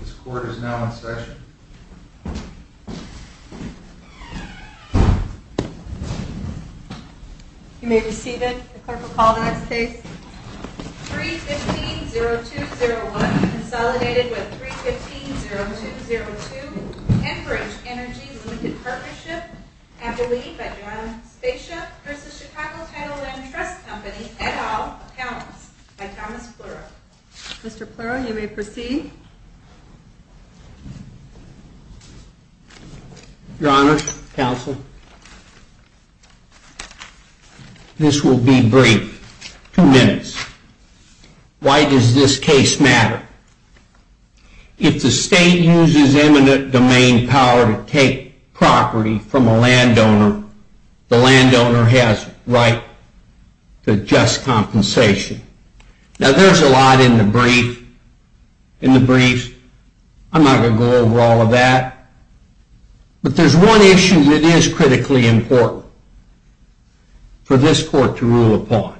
This court is now in session. You may receive it. The clerk will call the next case. 3-15-0201, consolidated with 3-15-0202, Enbridge Energy, Limited Partnership, and the lead by John Spacia v. Chicago Title Land Trust Co., et al., accounts, by Thomas Pluro. Mr. Pluro, you may proceed. Your Honor, Counsel, this will be brief, two minutes. Why does this case matter? If the state uses eminent domain power to take property from a landowner, the landowner has the right to just compensation. Now, there's a lot in the brief. I'm not going to go over all of that. But there's one issue that is critically important for this court to rule upon.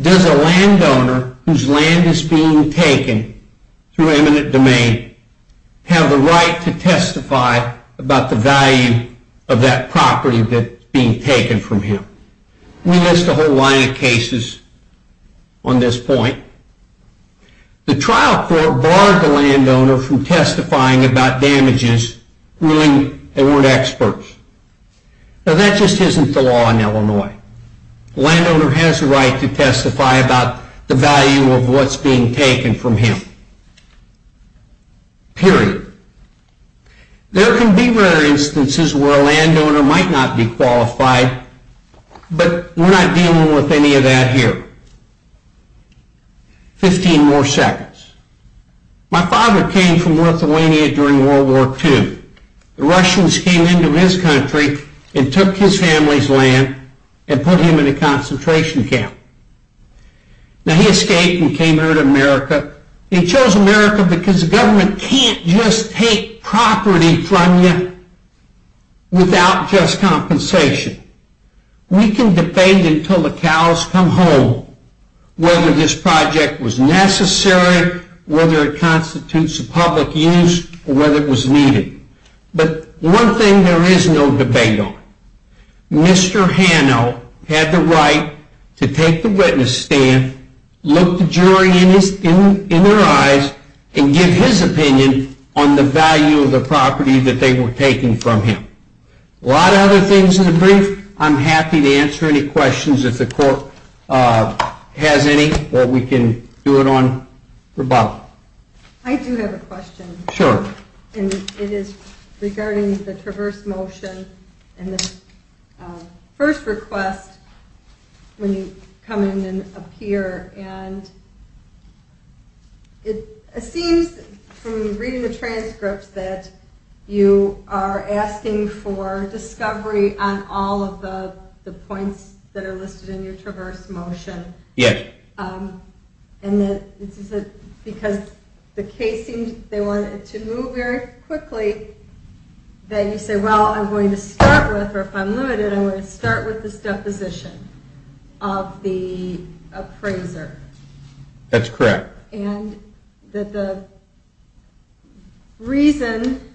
Does a landowner whose land is being taken through eminent domain have the right to testify about the value of that property that's being taken from him? We list a whole line of cases on this point. The trial court barred the landowner from testifying about damages ruling they weren't experts. Now, that just isn't the law in Illinois. The landowner has the right to testify about the value of what's being taken from him. Period. There can be rare instances where a landowner might not be qualified, but we're not dealing with any of that here. Fifteen more seconds. My father came from Lithuania during World War II. The Russians came into his country and took his family's land and put him in a concentration camp. Now, he escaped and came here to America. He chose America because the government can't just take property from you without just compensation. We can debate until the cows come home whether this project was necessary, whether it constitutes a public use, or whether it was needed. But one thing there is no debate on. Mr. Hanno had the right to take the witness stand, look the jury in their eyes, and give his opinion on the value of the property that they were taking from him. A lot of other things in the brief. I'm happy to answer any questions if the court has any, or we can do it on rebuttal. I do have a question. Sure. It is regarding the traverse motion and the first request when you come in and appear. It seems from reading the transcripts that you are asking for discovery on all of the points that are listed in your traverse motion. Yes. And because the case seemed to move very quickly, that you say, well, I'm going to start with, or if I'm limited, I'm going to start with this deposition of the appraiser. That's correct. And the reason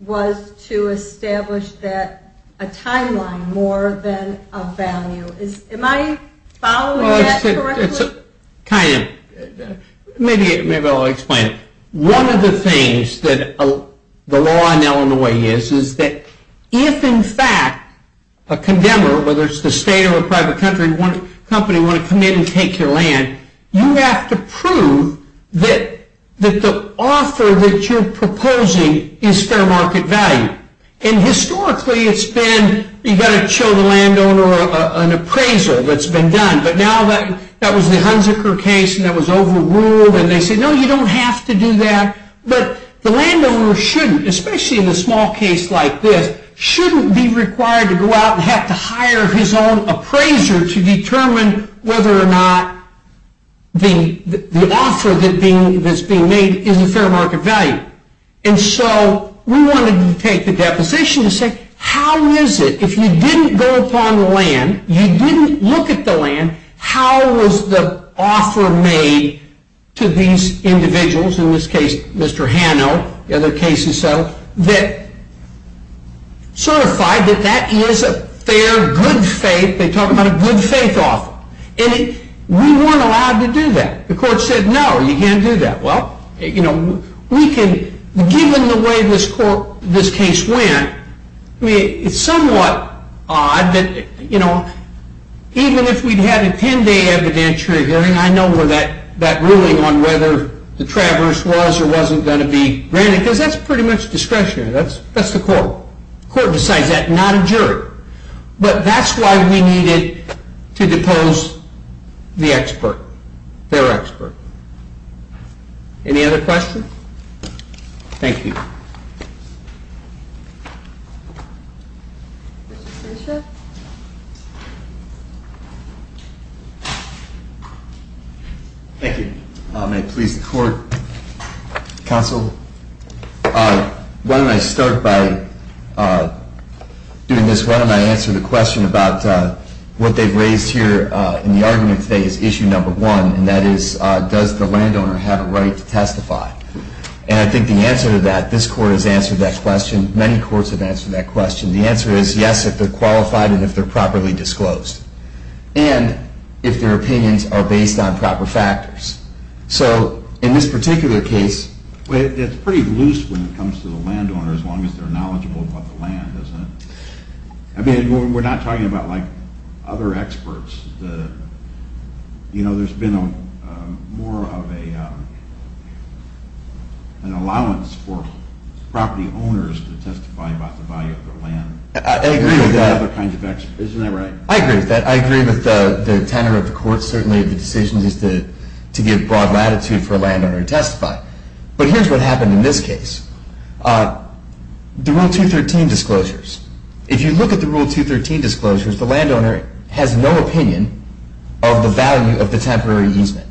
was to establish a timeline more than a value. Am I following that correctly? Kind of. Maybe I'll explain it. One of the things that the law in Illinois is, is that if in fact a condemner, whether it's the state or a private company, want to come in and take your land, you have to prove that the offer that you're proposing is fair market value. And historically it's been, you've got to show the landowner an appraisal that's been done. But now that was the Hunziker case, and that was overruled, and they said, no, you don't have to do that. But the landowner shouldn't, especially in a small case like this, shouldn't be required to go out and have to hire his own appraiser to determine whether or not the offer that's being made is a fair market value. And so we wanted to take the deposition to say, how is it if you didn't go upon the land, you didn't look at the land, how was the offer made to these individuals, in this case Mr. Hanno, the other cases settled, that certified that that is a fair, good faith, they talk about a good faith offer. And we weren't allowed to do that. The court said, no, you can't do that. Well, we can, given the way this case went, it's somewhat odd, but even if we had a 10-day evidentiary hearing, I know that ruling on whether the traverse was or wasn't going to be granted, because that's pretty much discretionary, that's the court. The court decides that, not a jury. But that's why we needed to depose the expert, their expert. Any other questions? Thank you. Thank you. May it please the court, counsel, why don't I start by doing this, why don't I answer the question about what they've raised here in the argument today is issue number one, and that is, does the landowner have a right to testify? And I think the answer to that, this court has answered that question, many courts have answered that question. The answer is yes, if they're qualified and if they're properly disclosed. And if their opinions are based on proper factors. So, in this particular case... It's pretty loose when it comes to the landowner, as long as they're knowledgeable about the land, isn't it? I mean, we're not talking about like other experts. You know, there's been more of an allowance for property owners to testify about the value of their land. I agree with that. Isn't that right? I agree with that, I agree with the tenor of the court, certainly the decision is to give broad latitude for a landowner to testify. But here's what happened in this case. The Rule 213 disclosures, if you look at the Rule 213 disclosures, the landowner has no opinion of the value of the temporary easement.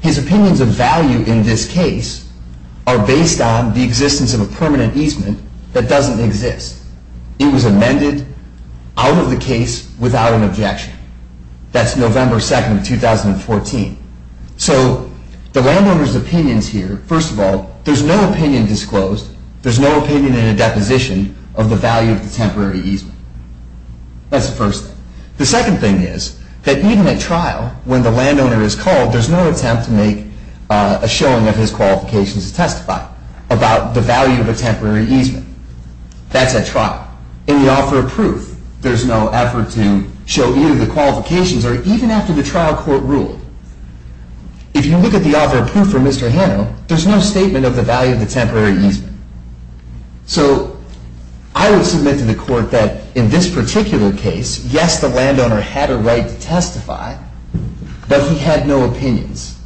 His opinions of value in this case are based on the existence of a permanent easement that doesn't exist. It was amended out of the case without an objection. That's November 2nd, 2014. So, the landowner's opinions here, first of all, there's no opinion disclosed, there's no opinion in a deposition of the value of the temporary easement. That's the first thing. The second thing is that even at trial, when the landowner is called, there's no attempt to make a showing of his qualifications to testify about the value of the temporary easement. That's at trial. In the offer of proof, there's no effort to show either the qualifications or even after the trial court ruled. If you look at the offer of proof for Mr. Hanno, there's no statement of the value of the temporary easement. So, I would submit to the court that in this particular case, yes, the landowner had a right to testify, but he had no opinions.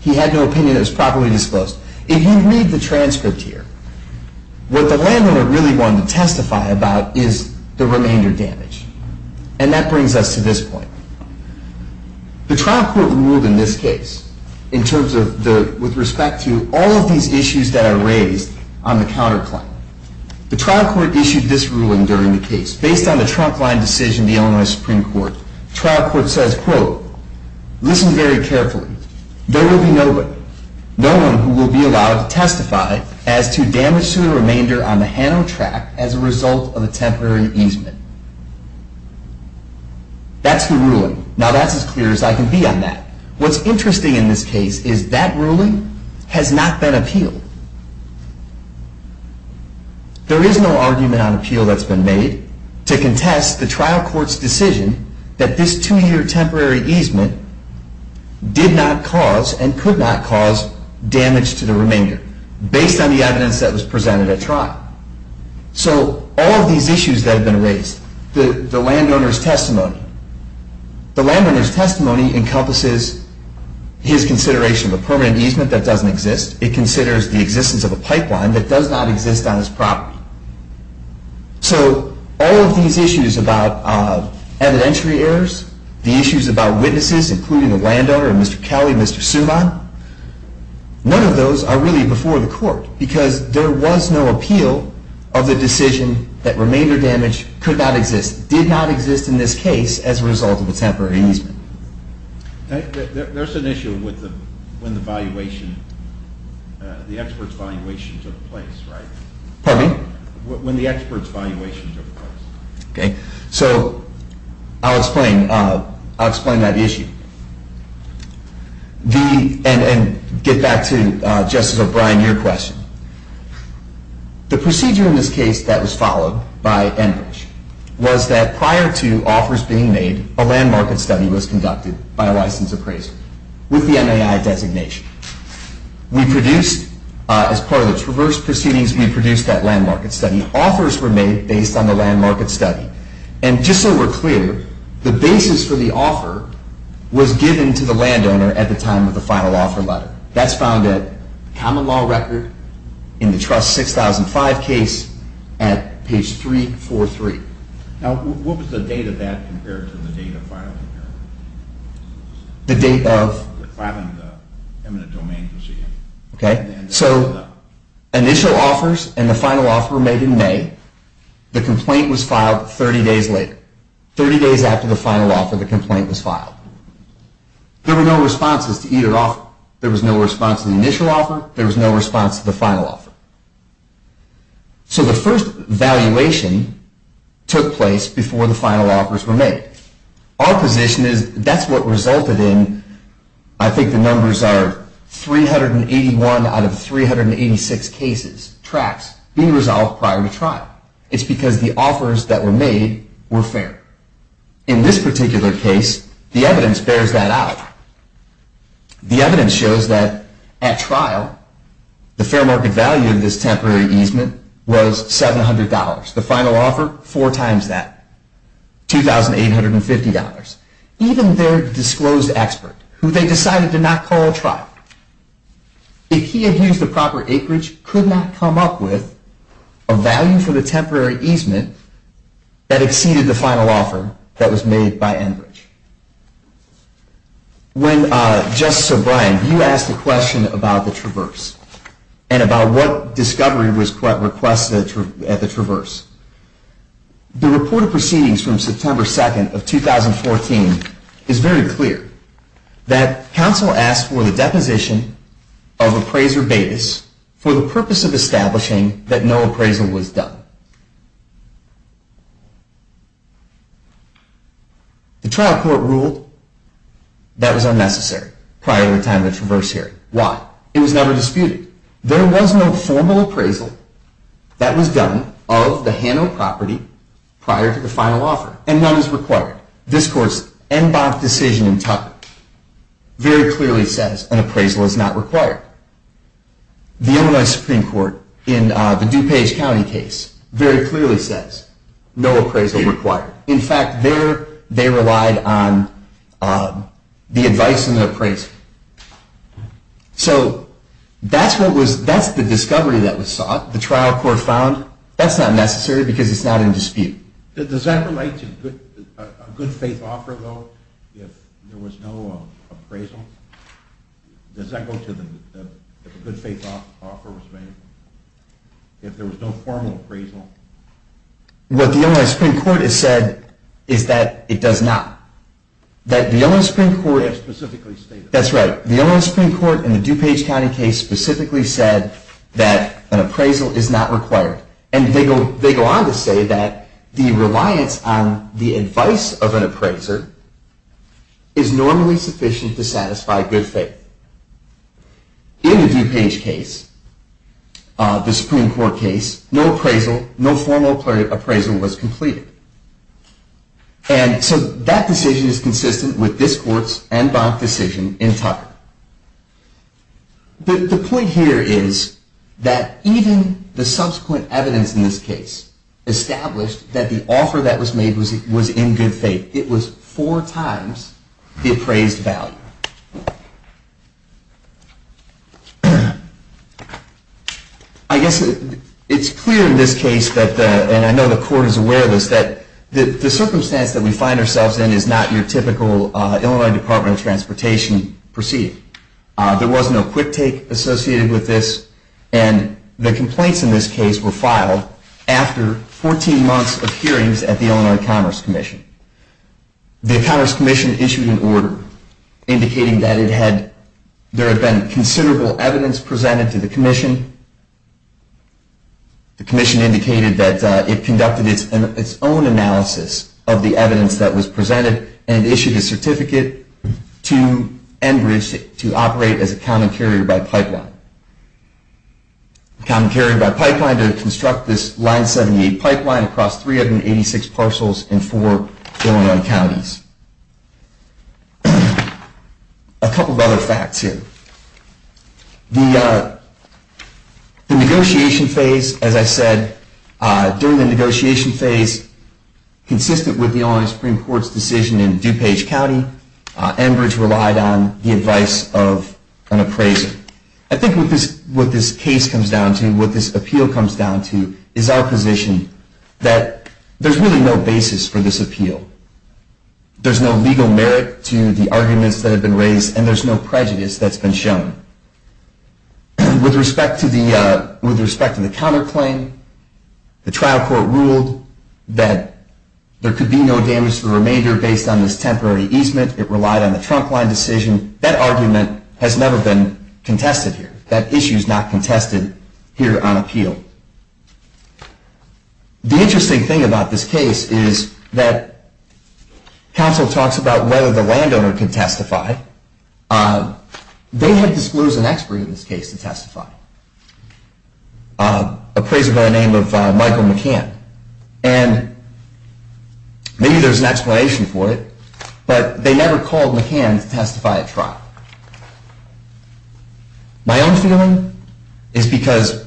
He had no opinion that was properly disclosed. If you read the transcript here, what the landowner really wanted to testify about is the remainder damage. And that brings us to this point. The trial court ruled in this case in terms of the, with respect to all of these issues that are raised on the counterclaim. The trial court issued this ruling during the case, based on the trunk line decision of the Illinois Supreme Court. The trial court says, quote, listen very carefully. There will be no one who will be allowed to testify as to damage to the remainder on the Hanno track as a result of the temporary easement. That's the ruling. Now, that's as clear as I can be on that. What's interesting in this case is that ruling has not been appealed. There is no argument on appeal that's been made to contest the trial court's decision that this two-year temporary easement did not cause and could not cause damage to the remainder, based on the evidence that was presented at trial. So, all of these issues that have been raised, the landowner's testimony, the landowner's testimony encompasses his consideration of a permanent easement that doesn't exist. It considers the existence of a pipeline that does not exist on his property. So, all of these issues about evidentiary errors, the issues about witnesses, including the landowner and Mr. Kelly, Mr. Suman, none of those are really before the court, because there was no appeal of the decision that remainder damage could not exist, did not exist in this case as a result of a temporary easement. There's an issue with the, when the valuation, the expert's valuation took place, right? Pardon me? When the expert's valuation took place. Okay. So, I'll explain, I'll explain that issue. The, and get back to Justice O'Brien, your question. The procedure in this case that was followed by Enbridge was that prior to offers being made, a land market study was conducted by a licensed appraiser with the MAI designation. We produced, as part of those reverse proceedings, we produced that land market study. Offers were made based on the land market study. And just so we're clear, the basis for the offer was given to the landowner at the time of the final offer letter. That's found at common law record in the trust 6005 case at page 343. Now, what was the date of that compared to the date of filing? The date of? The filing of the eminent domain procedure. Okay. So, initial offers and the final offer were made in May. The complaint was filed 30 days later. 30 days after the final offer, the complaint was filed. There were no responses to either offer. There was no response to the initial offer. There was no response to the final offer. So, the first valuation took place before the final offers were made. Our position is that's what resulted in, I think the numbers are 381 out of 386 cases, tracts, being resolved prior to trial. It's because the offers that were made were fair. In this particular case, the evidence bears that out. The evidence shows that at trial, the fair market value of this temporary easement was $700. The final offer, four times that, $2,850. Even their disclosed expert, who they decided to not call at trial, if he had used the proper acreage, could not come up with a value for the temporary easement that exceeded the final offer that was made by Enbridge. When Justice O'Brien, you asked the question about the Traverse, and about what discovery was requested at the Traverse, the report of proceedings from September 2nd of 2014 is very clear. That counsel asked for the deposition of appraiser Bates for the purpose of establishing that no appraisal was done. The trial court ruled that was unnecessary prior to the time of the Traverse hearing. Why? It was never disputed. There was no formal appraisal that was done of the Hano property prior to the final offer, and none is required. This Court's Enbach decision in Tucker very clearly says an appraisal is not required. The Illinois Supreme Court, in the DuPage County case, very clearly says no appraisal required. In fact, they relied on the advice of an appraiser. So that's the discovery that was sought. The trial court found that's not necessary because it's not in dispute. Does that relate to a good faith offer, though, if there was no appraisal? Does that go to the good faith offer was made, if there was no formal appraisal? What the Illinois Supreme Court has said is that it does not. That the Illinois Supreme Court... That's specifically stated. That's right. The Illinois Supreme Court, in the DuPage County case, specifically said that an appraisal is not required. And they go on to say that the reliance on the advice of an appraiser is normally sufficient to satisfy good faith. In the DuPage case, the Supreme Court case, no appraisal, no formal appraisal was completed. And so that decision is consistent with this Court's Enbach decision in Tucker. The point here is that even the subsequent evidence in this case established that the offer that was made was in good faith. It was four times the appraised value. I guess it's clear in this case, and I know the Court is aware of this, that the circumstance that we find ourselves in is not your typical Illinois Department of Transportation procedure. There was no quick take associated with this. And the complaints in this case were filed after 14 months of hearings at the Illinois Commerce Commission. The Commerce Commission issued an order indicating that there had been considerable evidence presented to the Commission. The Commission indicated that it conducted its own analysis of the evidence that was presented and issued a certificate to Enbridge to operate as a common carrier-by-pipeline. A common carrier-by-pipeline to construct this Line 78 pipeline across 386 parcels in four Illinois counties. A couple of other facts here. The negotiation phase, as I said, during the negotiation phase, consistent with the Illinois Supreme Court's decision in DuPage County, Enbridge relied on the advice of an appraiser. I think what this case comes down to, what this appeal comes down to, is our position that there's really no basis for this appeal. There's no legal merit to the arguments that have been raised, and there's no prejudice that's been shown. With respect to the counterclaim, the trial court ruled that there could be no damage to the remainder based on this temporary easement. It relied on the trunk line decision. That argument has never been contested here. That issue's not contested here on appeal. The interesting thing about this case is that counsel talks about whether the landowner can testify. They had disclosed an expert in this case to testify, an appraiser by the name of Michael McCann. And maybe there's an explanation for it, but they never called McCann to testify at trial. My own feeling is because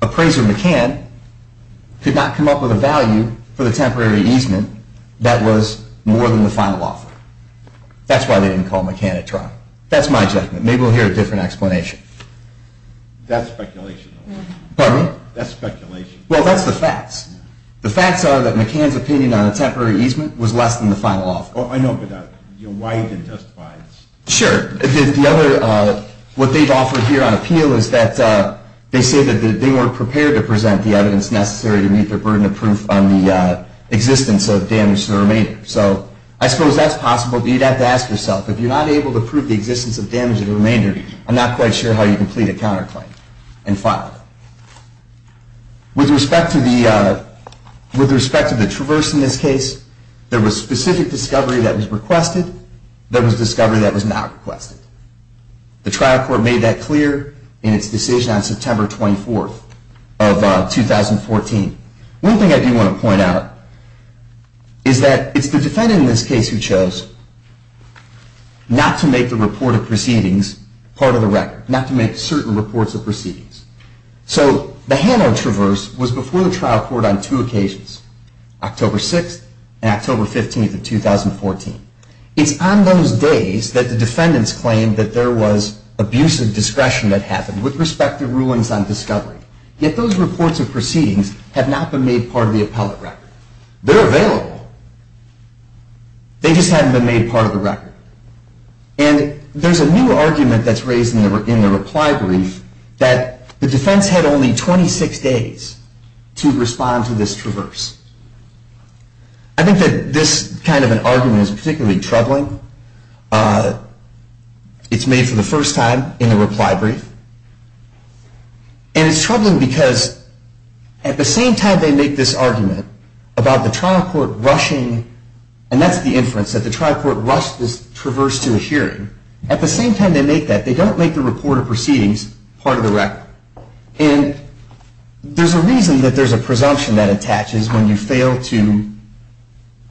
appraiser McCann could not come up with a value for the temporary easement that was more than the final offer. That's why they didn't call McCann at trial. That's my judgment. Maybe we'll hear a different explanation. That's speculation. Pardon me? That's speculation. Well, that's the facts. The facts are that McCann's opinion on the temporary easement was less than the final offer. Oh, I know, but why he didn't testify? Sure. What they've offered here on appeal is that they say that they weren't prepared to present the evidence necessary to meet their burden of proof on the existence of damage to the remainder. So I suppose that's possible, but you'd have to ask yourself, if you're not able to prove the existence of damage to the remainder, I'm not quite sure how you complete a counterclaim and file it. With respect to the traverse in this case, there was specific discovery that was requested. There was discovery that was not requested. The trial court made that clear in its decision on September 24th of 2014. One thing I do want to point out is that it's the defendant in this case who chose not to make the report of proceedings part of the record, not to make certain reports of proceedings. So the Hanard traverse was before the trial court on two occasions, October 6th and October 15th of 2014. It's on those days that the defendants claimed that there was abusive discretion that happened with respect to rulings on discovery. Yet those reports of proceedings have not been made part of the appellate record. They're available. They just haven't been made part of the record. And there's a new argument that's raised in the reply brief that the defense had only 26 days to respond to this traverse. I think that this kind of an argument is particularly troubling. It's made for the first time in the reply brief. And it's troubling because at the same time they make this argument about the trial court rushing, and that's the inference, that the trial court rushed this traverse to a hearing. At the same time they make that, they don't make the report of proceedings part of the record. And there's a reason that there's a presumption that attaches when you fail to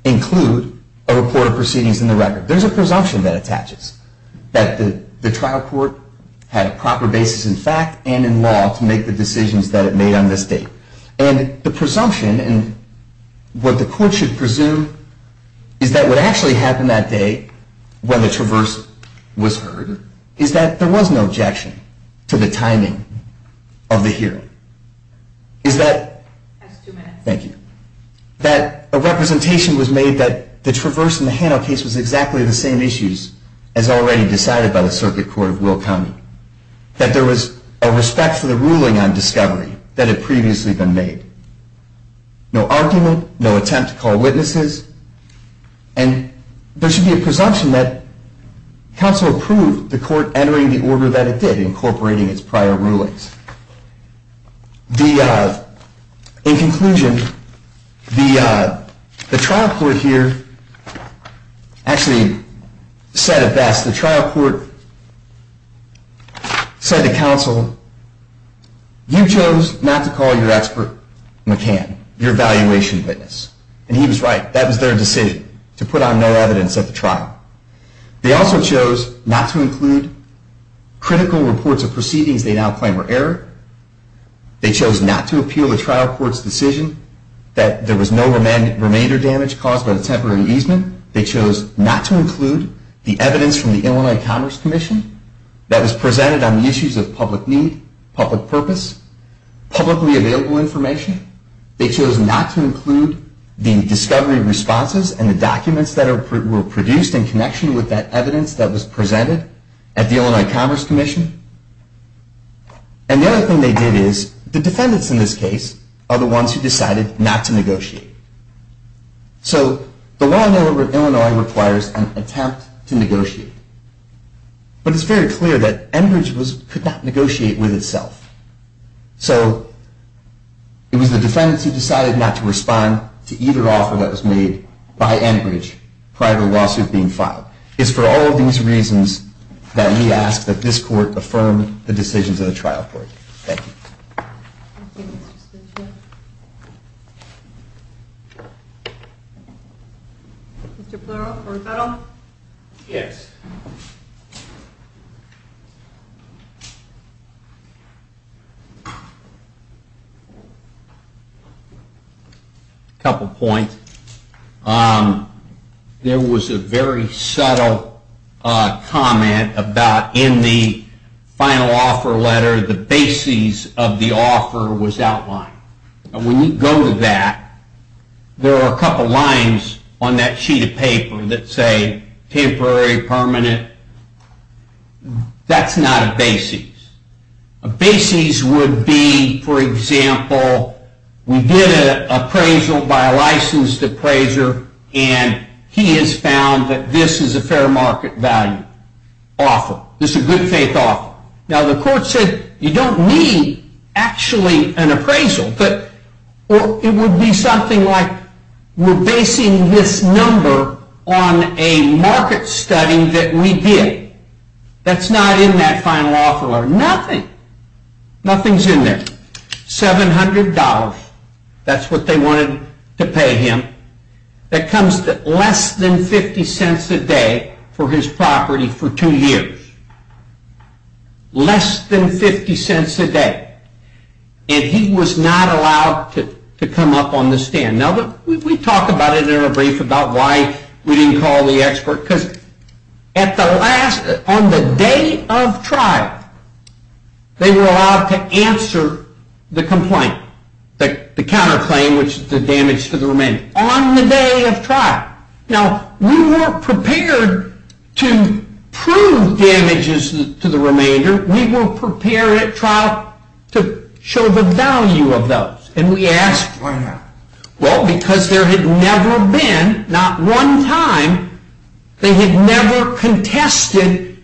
include a report of proceedings in the record. There's a presumption that attaches that the trial court had a proper basis in fact and in law to make the decisions that it made on this date. And the presumption and what the court should presume is that what actually happened that day when the traverse was heard is that there was no objection to the timing of the hearing. Is that a representation was made that the traverse in the Hano case was exactly the same issues as already decided by the circuit court of Will County. That there was a respect for the ruling on discovery that had previously been made. No argument, no attempt to call witnesses. And there should be a presumption that counsel approved the court entering the order that it did, incorporating its prior rulings. In conclusion, the trial court here actually said it best. The trial court said to counsel, you chose not to call your expert McCann, your valuation witness. And he was right, that was their decision, to put on no evidence at the trial. They also chose not to include critical reports of proceedings they now claim were error. They chose not to appeal the trial court's decision that there was no remainder damage caused by the temporary easement. They chose not to include the evidence from the Illinois Commerce Commission that was presented on the issues of public need, public purpose, publicly available information. They chose not to include the discovery responses and the documents that were produced in connection with that evidence that was presented at the Illinois Commerce Commission. And the other thing they did is, the defendants in this case are the ones who decided not to negotiate. So the law in Illinois requires an attempt to negotiate. But it's very clear that Enbridge could not negotiate with itself. So it was the defendants who decided not to respond to either offer that was made by Enbridge prior to the lawsuit being filed. It's for all of these reasons that we ask that this court affirm the decisions of the trial court. Thank you. Thank you, Mr. Stichler. Mr. Plurot, for rebuttal? Yes. A couple points. There was a very subtle comment about in the final offer letter, the basis of the offer was outlined. And when you go to that, there are a couple lines on that sheet of paper that say temporary, permanent. That's not a basis. A basis would be, for example, we did an appraisal by a licensed appraiser and he has found that this is a fair market value offer. This is a good faith offer. Now the court said you don't need actually an appraisal, but it would be something like we're basing this number on a market study that we did. That's not in that final offer letter. Nothing. Nothing is in there. $700. That's what they wanted to pay him. That comes to less than 50 cents a day for his property for two years. Less than 50 cents a day. And he was not allowed to come up on the stand. Now we talk about it in a brief about why we didn't call the expert. Because on the day of trial, they were allowed to answer the complaint. The counterclaim, which is the damage to the remainder. On the day of trial. Now we weren't prepared to prove damages to the remainder. We were prepared at trial to show the value of those. Why not? Well, because there had never been, not one time, they had never contested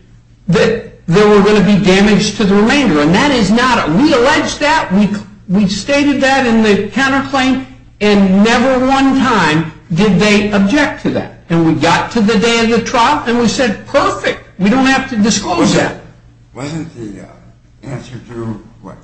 that there were going to be damage to the remainder. We alleged that. We stated that in the counterclaim, and never one time did they object to that. And we got to the day of the trial, and we said perfect. We don't have to disclose that. Wasn't the answer to what?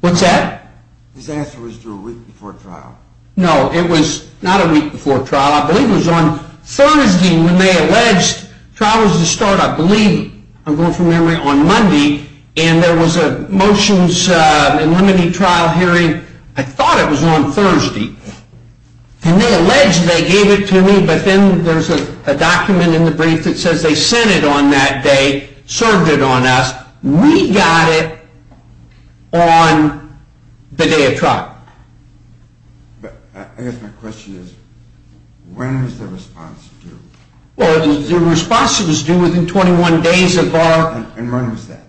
What's that? His answer was to a week before trial. No, it was not a week before trial. I believe it was on Thursday when they alleged. Trial was to start, I believe, I'm going from memory, on Monday. And there was a motions eliminating trial hearing. I thought it was on Thursday. And they alleged they gave it to me, but then there's a document in the brief that says they sent it on that day, served it on us. We got it on the day of trial. I guess my question is, when was the response due? The response was due within 21 days of our... And when was that?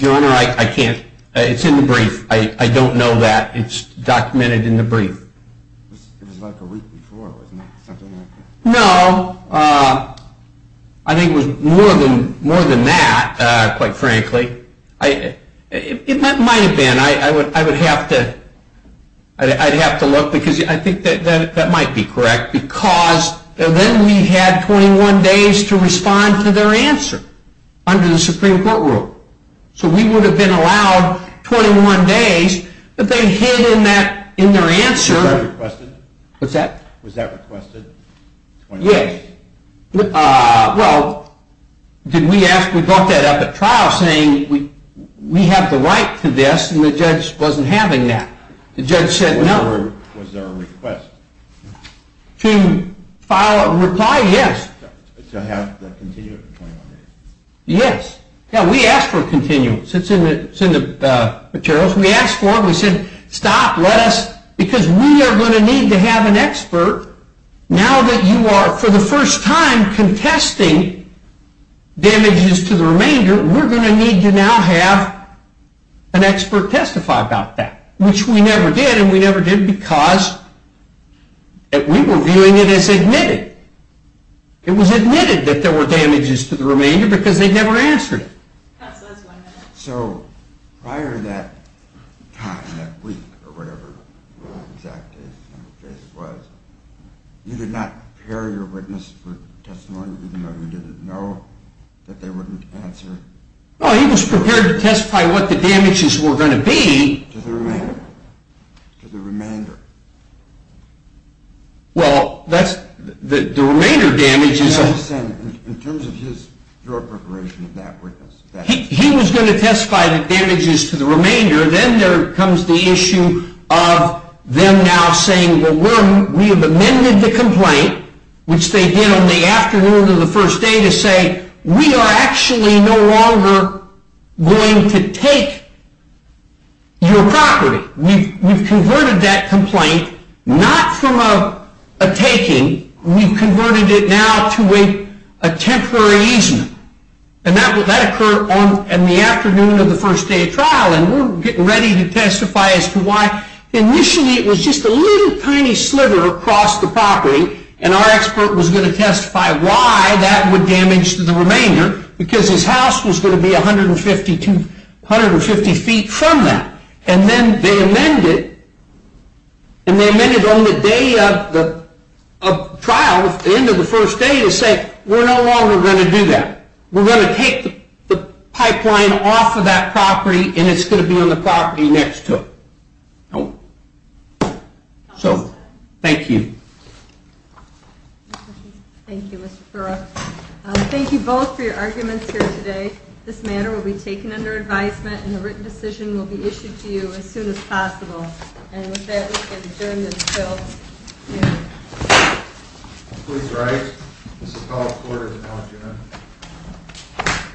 Your Honor, I can't, it's in the brief. I don't know that. It's documented in the brief. It was like a week before, wasn't it? No, I think it was more than that, quite frankly. It might have been. I would have to look, because I think that might be correct. Because then we had 21 days to respond to their answer under the Supreme Court rule. So we would have been allowed 21 days, but they hid in their answer... Was that requested? Yes. Well, did we ask, we brought that up at trial saying we have the right to this, and the judge wasn't having that. The judge said no. Was there a request? To file a reply, yes. To have the continuum for 21 days? Yes. Yeah, we asked for a continuum. It's in the materials. We asked for it, we said stop, let us, because we are going to need to have an expert, now that you are, for the first time, contesting damages to the remainder, we're going to need to now have an expert testify about that. Which we never did, and we never did because we were viewing it as admitted. It was admitted that there were damages to the remainder because they never answered it. So, prior to that time, that week, or whatever the exact date was, you did not prepare your witness for testimony even though you didn't know that they wouldn't answer? No, he was prepared to testify what the damages were going to be. To the remainder? To the remainder. Well, that's, the remainder damages... I understand, in terms of his, your preparation of that witness... He was going to testify the damages to the remainder, then there comes the issue of them now saying, well, we have amended the complaint, which they did on the afternoon of the first day to say, we are actually no longer going to take your property. We've converted that complaint, not from a taking, we've converted it now to a temporary easement. And that occurred in the afternoon of the first day of trial, and we're getting ready to testify as to why. Initially, it was just a little tiny sliver across the property, and our expert was going to testify why that would damage to the remainder, because his house was going to be 150 feet from that. And then they amended, and they amended on the day of the trial, at the end of the first day, to say, we're no longer going to do that. We're going to take the pipeline off of that property, and it's going to be on the property next to it. So, thank you. Thank you, Mr. Thurow. Thank you both for your arguments here today. This matter will be taken under advisement, and a written decision will be issued to you as soon as possible. And with that, we can adjourn this bill. Thank you. Please rise. This is called quartered now, Jim.